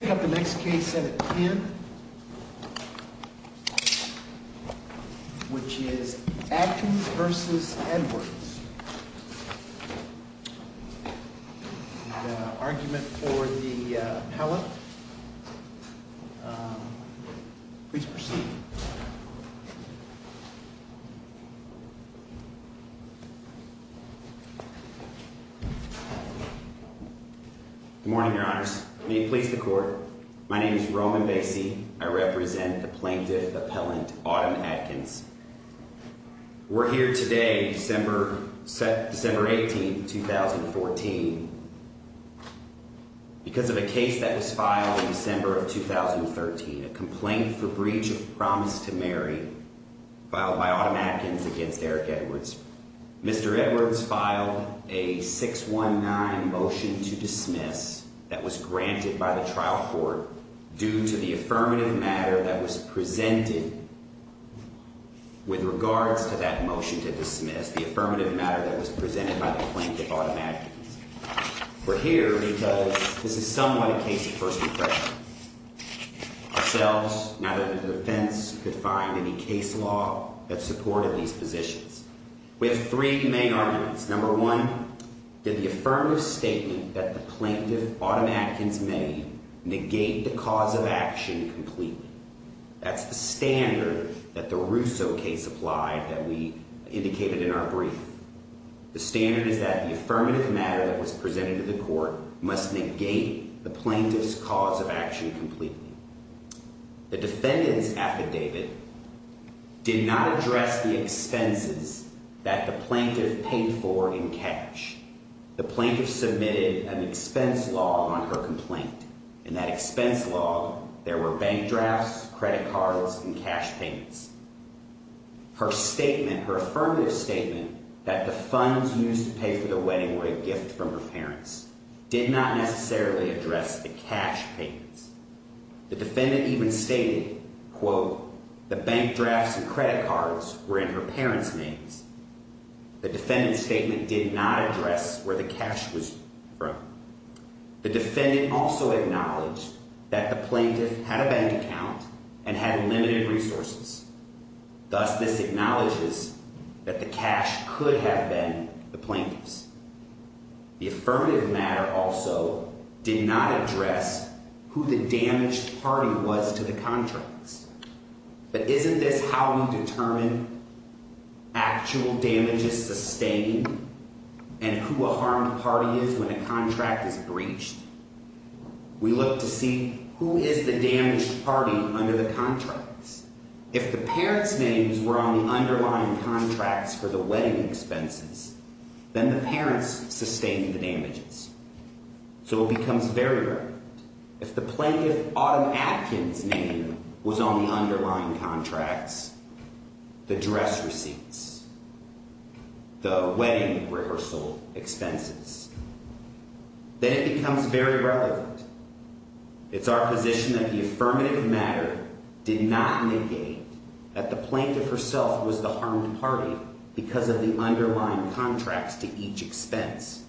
We have the next case at the end, which is Atkins v. Edwards. The argument for the pallet. Please proceed. Good morning, your honors. May it please the court. My name is Roman Basie. I represent the plaintiff appellant, Autumn Atkins. We're here today, December, December 18, 2014. Because of a case that was filed in December of 2013, a complaint for breach of promise to marry filed by Autumn Atkins against Eric Edwards. Mr. Edwards filed a 619 motion to dismiss that was granted by the trial court due to the affirmative matter that was presented with regards to that motion to dismiss the affirmative matter that was presented by the plaintiff Autumn Atkins. We're here because this is somewhat a case of first impression. So now that the defense could find any case law that supported these positions. With three main arguments, number one, did the affirmative statement that the plaintiff Autumn Atkins may negate the cause of action completely. That's the standard that the Russo case applied that we indicated in our brief. The standard is that the affirmative matter that was presented to the court must negate the plaintiff's cause of action completely. The defendant's affidavit did not address the expenses that the plaintiff paid for in cash. The plaintiff submitted an expense law on her complaint. In that expense law, there were bank drafts, credit cards, and cash payments. Her affirmative statement that the funds used to pay for the wedding were a gift from her parents did not necessarily address the cash payments. The defendant even stated, quote, the bank drafts and credit cards were in her parents' names. The defendant's statement did not address where the cash was from. The defendant also acknowledged that the plaintiff had a bank account and had limited resources. Thus, this acknowledges that the cash could have been the plaintiff's. The affirmative matter also did not address who the damaged party was to the contracts. But isn't this how we determine actual damages sustained and who a harmed party is when a contract is breached? We look to see who is the damaged party under the contracts. If the parents' names were on the underlying contracts for the wedding expenses, then the parents sustained the damages. So it becomes very relevant. If the plaintiff, Autumn Atkins' name was on the underlying contracts, the dress receipts, the wedding rehearsal expenses, then it becomes very relevant. It's our position that the affirmative matter did not negate that the plaintiff herself was the harmed party because of the underlying contracts to each expense.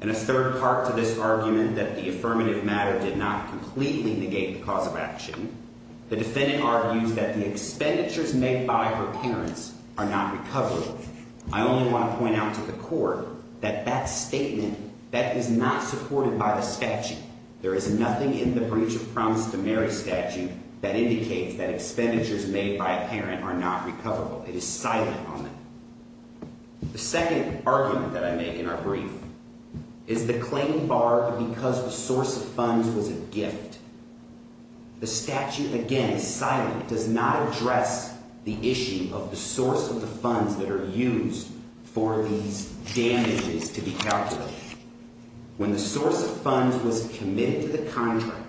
And a third part to this argument that the affirmative matter did not completely negate the cause of action, the defendant argues that the expenditures made by her parents are not recoverable. I only want to point out to the court that that statement, that is not supported by the statute. There is nothing in the breach of promise to marry statute that indicates that expenditures made by a parent are not recoverable. It is silent on that. The second argument that I make in our brief is the claim barred because the source of funds was a gift. The statute, again, silent, does not address the issue of the source of the funds that are used for these damages to be calculated. When the source of funds was committed to the contract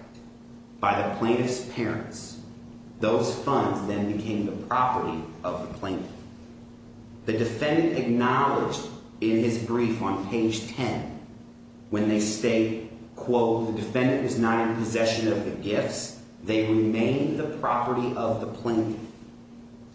by the plaintiff's parents, those funds then became the property of the plaintiff. The defendant acknowledged in his brief on page 10 when they state, quote, the defendant was not in possession of the gifts. They remain the property of the plaintiff.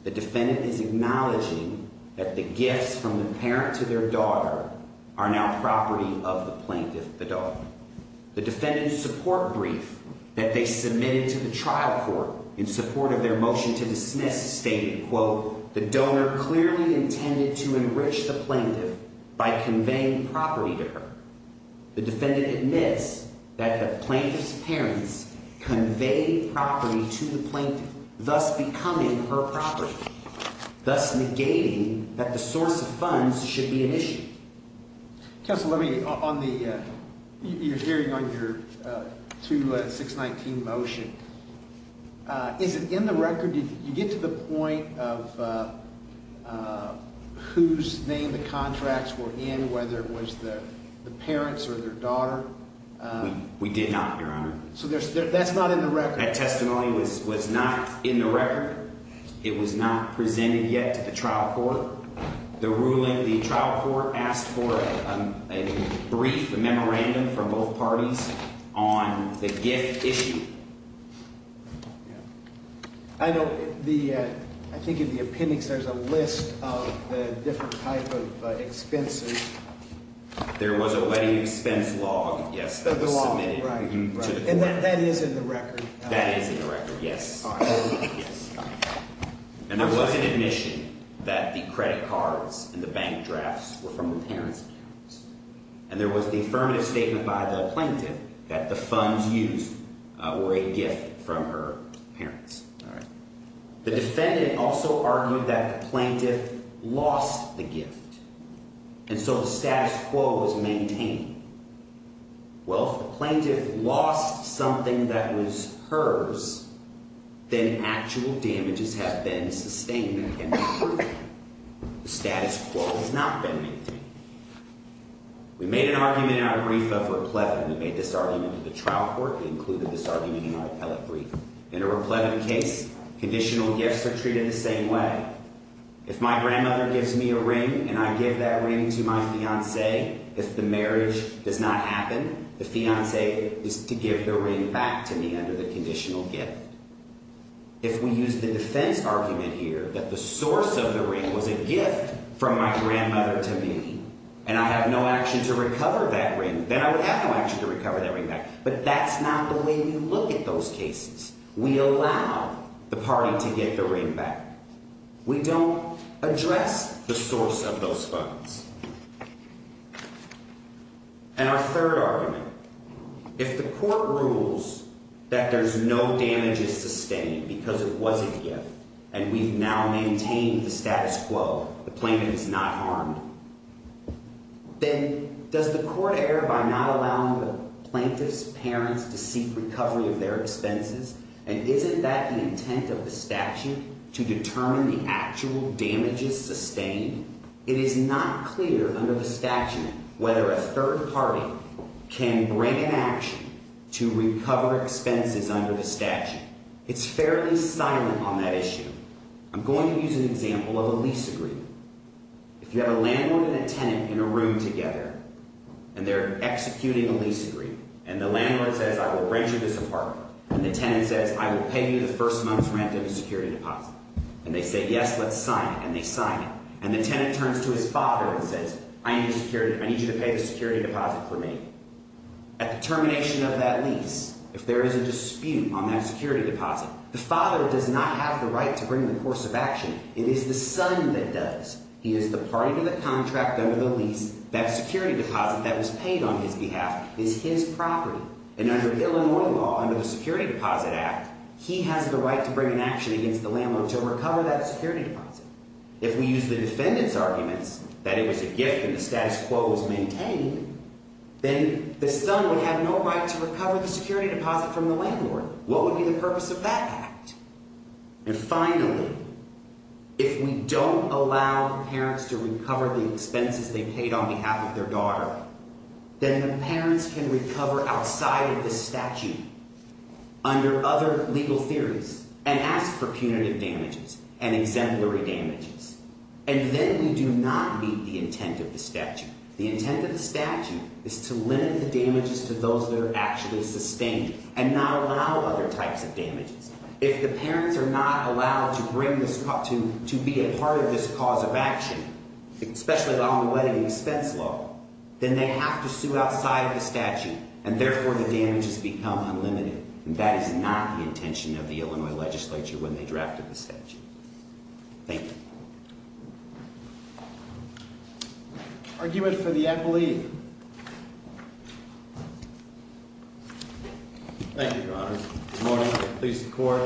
The defendant is acknowledging that the gifts from the parent to their daughter are now property of the plaintiff. The defendant's support brief that they submitted to the trial court in support of their motion to dismiss stated, quote, the donor clearly intended to enrich the plaintiff by conveying property to her. The defendant admits that the plaintiff's parents conveyed property to the plaintiff, thus becoming her property, thus negating that the source of funds should be an issue. Counsel, let me, on the, you're hearing on your 2-619 motion. Is it in the record? Did you get to the point of whose name the contracts were in, whether it was the parents or their daughter? We did not, Your Honor. So that's not in the record? That testimony was not in the record. It was not presented yet to the trial court. The ruling, the trial court asked for a brief, a memorandum from both parties on the gift issue. I know the, I think in the appendix there's a list of the different type of expenses. There was a wedding expense log, yes, that was submitted. And that is in the record? That is in the record, yes. And there was an admission that the credit cards and the bank drafts were from the parents. And there was the affirmative statement by the plaintiff that the funds used were a gift from her parents. All right. The defendant also argued that the plaintiff lost the gift, and so the status quo was maintained. Well, if the plaintiff lost something that was hers, then actual damages have been sustained and can be proven. The status quo has not been maintained. We made an argument in our brief of replevin. We made this argument to the trial court. We included this argument in our appellate brief. In a replevin case, conditional gifts are treated the same way. If my grandmother gives me a ring and I give that ring to my fiancé, if the marriage does not happen, the fiancé is to give the ring back to me under the conditional gift. If we use the defense argument here that the source of the ring was a gift from my grandmother to me, and I have no action to recover that ring, then I would have no action to recover that ring back. But that's not the way we look at those cases. We allow the party to get the ring back. We don't address the source of those funds. And our third argument, if the court rules that there's no damages sustained because it was a gift and we've now maintained the status quo, the plaintiff is not harmed, then does the court err by not allowing the plaintiff's parents to seek recovery of their expenses? And isn't that the intent of the statute to determine the actual damages sustained? It is not clear under the statute whether a third party can bring an action to recover expenses under the statute. It's fairly silent on that issue. I'm going to use an example of a lease agreement. If you have a landlord and a tenant in a room together, and they're executing a lease agreement, and the landlord says, I will break you this apart, and the tenant says, I will pay you the first month's rent of a security deposit. And they say, yes, let's sign it, and they sign it. And the tenant turns to his father and says, I need you to pay the security deposit for me. At the termination of that lease, if there is a dispute on that security deposit, the father does not have the right to bring the course of action. It is the son that does. He is the party to the contract under the lease. That security deposit that was paid on his behalf is his property. And under Illinois law, under the Security Deposit Act, he has the right to bring an action against the landlord to recover that security deposit. If we use the defendant's arguments that it was a gift and the status quo was maintained, then the son would have no right to recover the security deposit from the landlord. What would be the purpose of that act? And finally, if we don't allow the parents to recover the expenses they paid on behalf of their daughter, then the parents can recover outside of the statute under other legal theories and ask for punitive damages and exemplary damages. And then we do not meet the intent of the statute. The intent of the statute is to limit the damages to those that are actually sustained and not allow other types of damages. If the parents are not allowed to bring this – to be a part of this cause of action, especially on the wedding expense law, then they have to sue outside of the statute, and therefore the damages become unlimited. And that is not the intention of the Illinois legislature when they drafted the statute. Thank you. Argument for the ad belief. Thank you, Your Honor. Good morning. Please support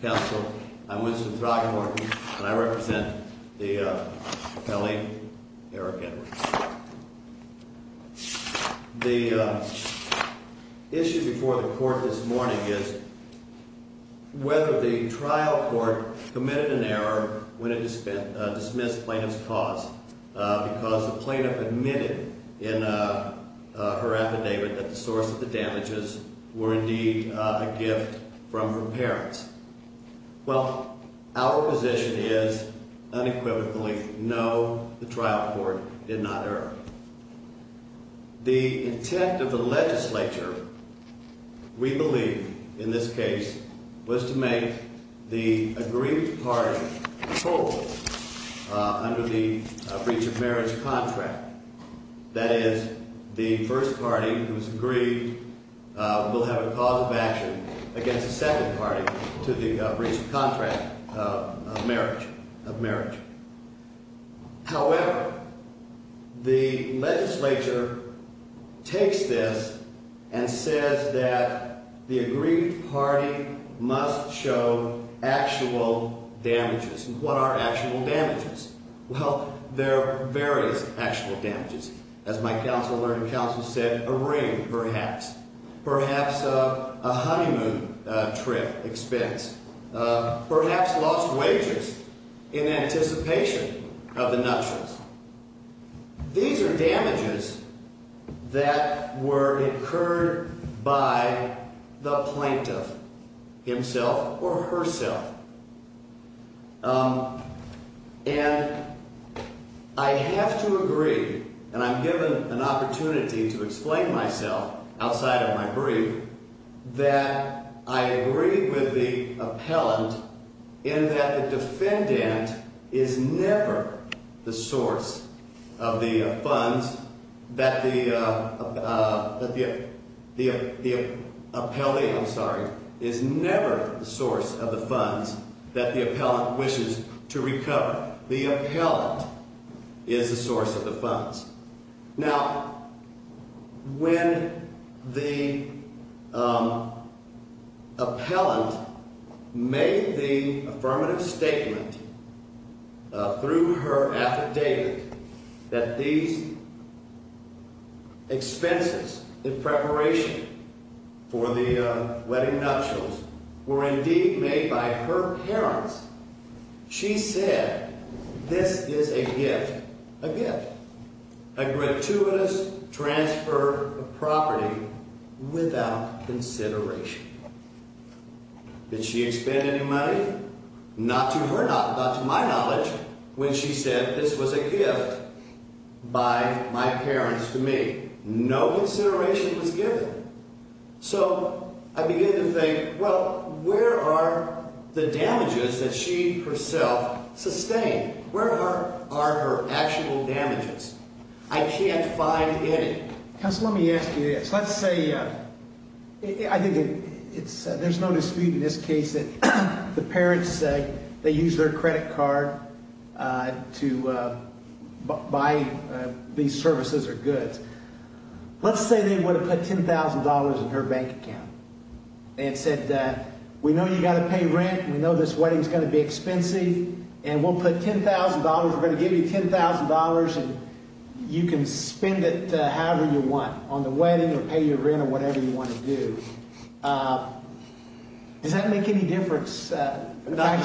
the counsel. I'm Winston Throckmorton, and I represent the appellee, Eric Edwards. The issue before the court this morning is whether the trial court committed an error when it dismissed plaintiff's cause because the plaintiff admitted in her affidavit that the source of the damages were indeed a gift from her parents. Well, our position is unequivocally no, the trial court did not err. The intent of the legislature, we believe, in this case, was to make the aggrieved party total under the breach of marriage contract. That is, the first party who is aggrieved will have a cause of action against the second party to the breach of contract of marriage. However, the legislature takes this and says that the aggrieved party must show actual damages. And what are actual damages? Well, there are various actual damages. As my counselor and counsel said, a ring, perhaps. Perhaps a honeymoon trip expense. Perhaps lost wages in anticipation of the nuptials. These are damages that were incurred by the plaintiff himself or herself. And I have to agree, and I'm given an opportunity to explain myself outside of my brief, that I agree with the appellant in that the defendant is never the source of the funds. That the appellee, I'm sorry, is never the source of the funds that the appellant wishes to recover. The appellant is the source of the funds. Now, when the appellant made the affirmative statement through her affidavit that these expenses in preparation for the wedding nuptials were indeed made by her parents, she said, this is a gift. A gift. A gratuitous transfer of property without consideration. Did she expend any money? Not to her knowledge, not to my knowledge, when she said this was a gift by my parents to me. No consideration was given. So, I begin to think, well, where are the damages that she herself sustained? Where are her actual damages? I can't find any. Counsel, let me ask you this. Let's say, I think there's no dispute in this case that the parents say they used their credit card to buy these services or goods. Let's say they would have put $10,000 in her bank account and said, we know you've got to pay rent, we know this wedding is going to be expensive, and we'll put $10,000, we're going to give you $10,000 and you can spend it however you want on the wedding or pay your rent or whatever you want to do. Does that make any difference? Not in my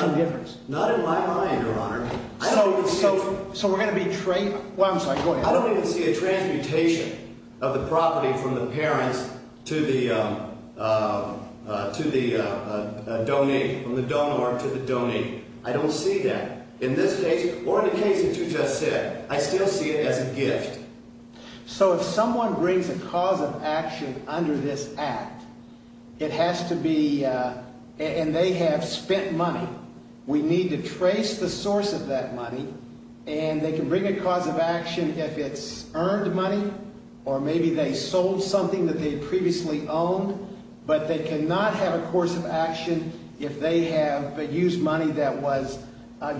mind, Your Honor. I don't even see a transmutation of the property from the parents to the donor to the donee. I don't see that. In this case, or in the case that you just said, I still see it as a gift. So if someone brings a cause of action under this act, it has to be, and they have spent money. We need to trace the source of that money, and they can bring a cause of action if it's earned money, or maybe they sold something that they previously owned, but they cannot have a course of action if they have used money that was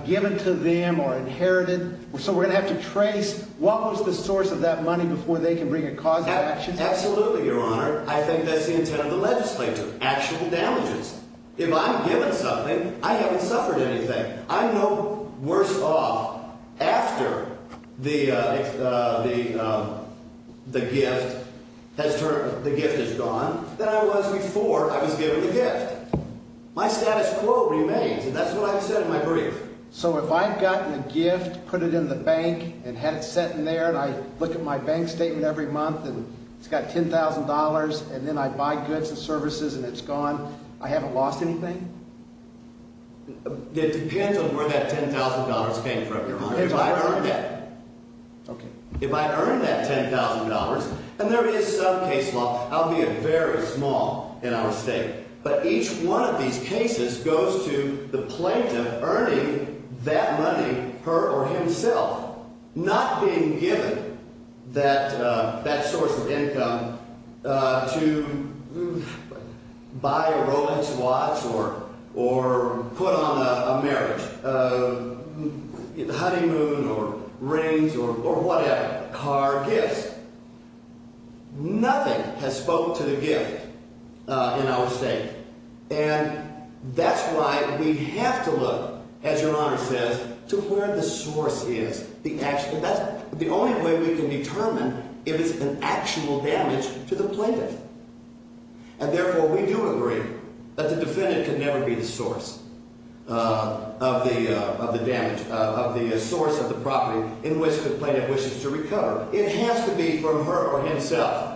given to them or inherited. So we're going to have to trace what was the source of that money before they can bring a cause of action? Absolutely, Your Honor. I think that's the intent of the legislature. Actual damages. If I'm given something, I haven't suffered anything. I'm no worse off after the gift has gone than I was before I was given the gift. My status quo remains, and that's what I've said in my brief. So if I've gotten a gift, put it in the bank, and had it set in there, and I look at my bank statement every month, and it's got $10,000, and then I buy goods and services, and it's gone, I haven't lost anything? It depends on where that $10,000 came from, Your Honor. Okay. And there is some case law, albeit very small in our state, but each one of these cases goes to the plaintiff earning that money her or himself, not being given that source of income to buy a Rolex watch or put on a marriage, honeymoon or rings or whatever, car gifts. Nothing has spoken to the gift in our state. And that's why we have to look, as Your Honor says, to where the source is. That's the only way we can determine if it's an actual damage to the plaintiff. And therefore, we do agree that the defendant can never be the source of the damage, of the source of the property in which the plaintiff wishes to recover. It has to be from her or himself.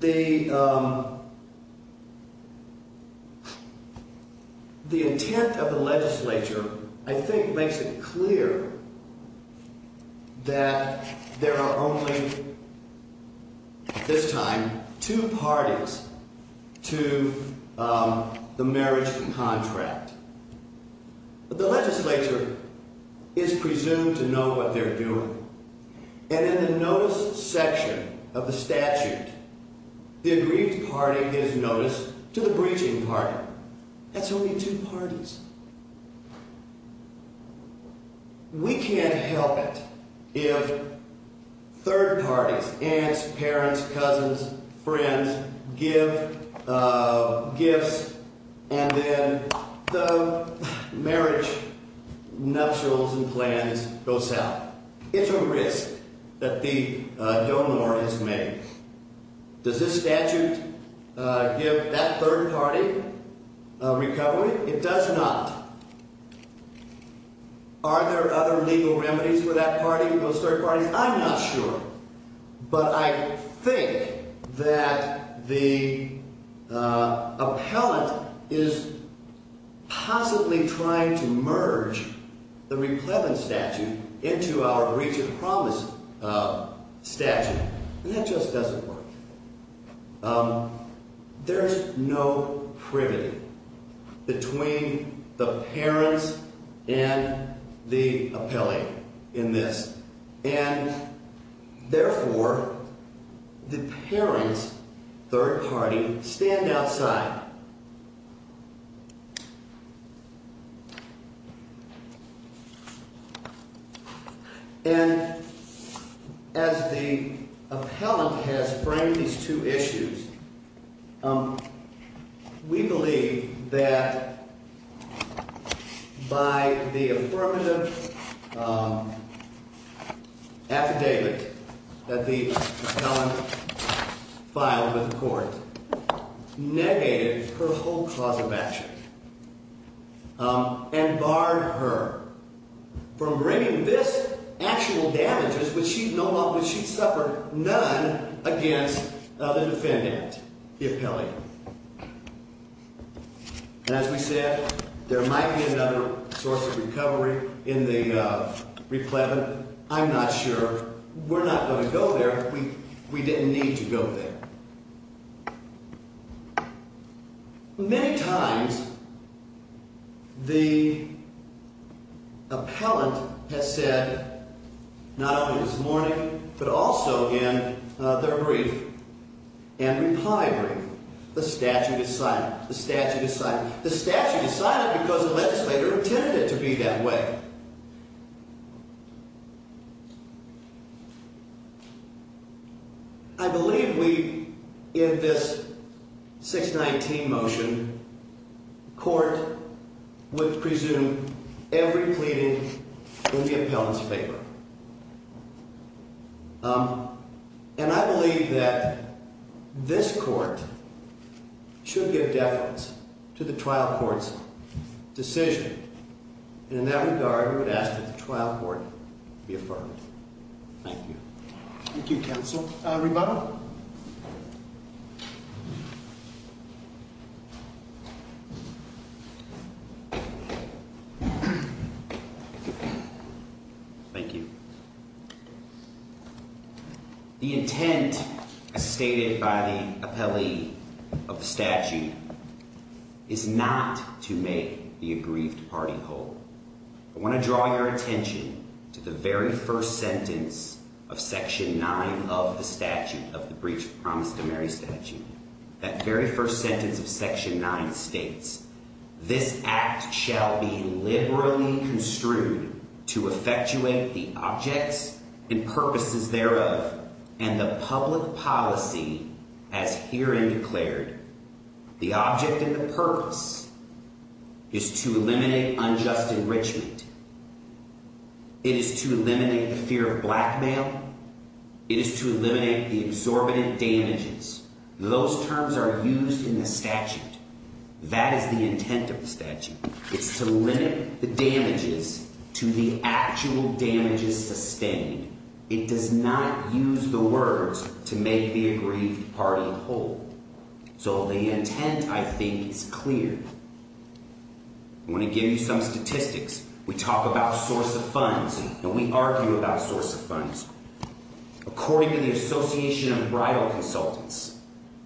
The intent of the legislature, I think, makes it clear that there are only, at this time, two parties to the marriage contract. The legislature is presumed to know what they're doing. And in the notice section of the statute, the agreed party is noticed to the breaching party. That's only two parties. We can't help it if third parties, aunts, parents, cousins, friends, give gifts and then the marriage nuptials and plans go south. It's a risk that the donor has made. Does this statute give that third party a recovery? It does not. Are there other legal remedies for that party, for those third parties? I'm not sure. But I think that the appellant is possibly trying to merge the replevant statute into our breach of promise statute. And that just doesn't work. There's no privity. Between the parents and the appellate in this. And, therefore, the parents, third party, stand outside. And as the appellant has framed these two issues, we believe that by the affirmative affidavit that the appellant filed with the court, the appellant negated her whole clause of action and barred her from bringing this actual damages, which she's known of, which she's suffered, none against the defendant, the appellant. And as we said, there might be another source of recovery in the replevant. I'm not sure. We're not going to go there. We didn't need to go there. Many times, the appellant has said, not only this morning, but also in their brief, Andrew Pye brief, the statute is silent. The statute is silent. The statute is silent because the legislator intended it to be that way. I believe we, in this 619 motion, court would presume every pleading in the appellant's favor. And I believe that this court should give deference to the trial court's decision. And in that regard, we would ask that the trial court be affirmed. Thank you. Thank you, counsel. Rebuttal? Rebuttal? Thank you. The intent, as stated by the appellee of the statute, is not to make the aggrieved party whole. I want to draw your attention to the very first sentence of Section 9 of the statute, of the breach of promise to Mary statute. That very first sentence of Section 9 states, This act shall be liberally construed to effectuate the objects and purposes thereof, and the public policy as herein declared. The object and the purpose is to eliminate unjust enrichment. It is to eliminate the fear of blackmail. It is to eliminate the exorbitant damages. Those terms are used in the statute. That is the intent of the statute. It's to limit the damages to the actual damages sustained. It does not use the words to make the aggrieved party whole. So the intent, I think, is clear. I want to give you some statistics. We talk about source of funds. Now, we argue about source of funds. According to the Association of Bridal Consultants,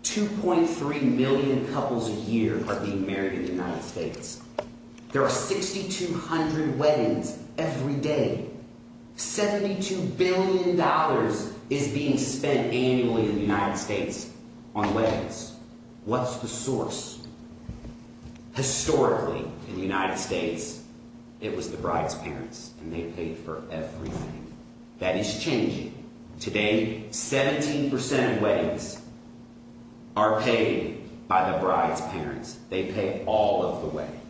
2.3 million couples a year are being married in the United States. There are 6,200 weddings every day. $72 billion is being spent annually in the United States on weddings. What's the source? Historically, in the United States, it was the bride's parents, and they paid for everything. That is changing. Today, 17% of weddings are paid by the bride's parents. They pay all of the wedding.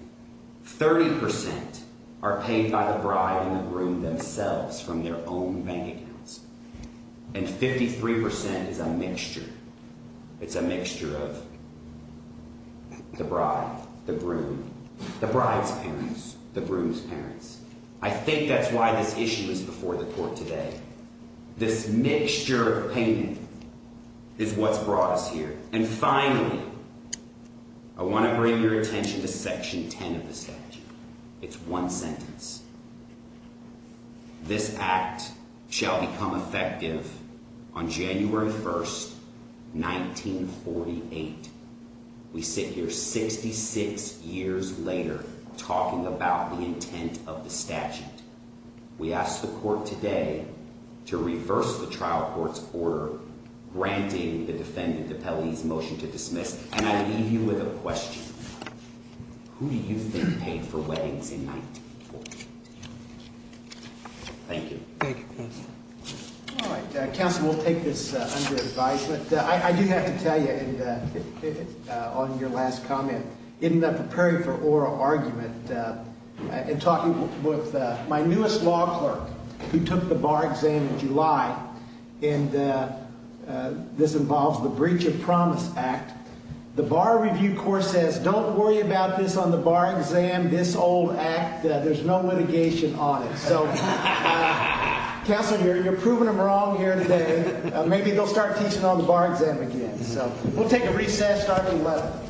30% are paid by the bride and the groom themselves from their own bank accounts. And 53% is a mixture. It's a mixture of the bride, the groom, the bride's parents, the groom's parents. I think that's why this issue is before the court today. This mixture of payment is what's brought us here. And finally, I want to bring your attention to Section 10 of the statute. It's one sentence. This act shall become effective on January 1, 1948. We sit here 66 years later talking about the intent of the statute. We ask the court today to reverse the trial court's order granting the defendant of Helley's motion to dismiss. And I leave you with a question. Who do you think paid for weddings in 1948? Thank you. Thank you, counsel. All right. Counsel, we'll take this under advice. But I do have to tell you, on your last comment, in preparing for oral argument, in talking with my newest law clerk, who took the bar exam in July, and this involves the Breach of Promise Act, the Bar Review Court says don't worry about this on the bar exam, this old act. There's no litigation on it. So, counsel, you're proving them wrong here today. Maybe they'll start teaching on the bar exam again. So we'll take a recess starting 11.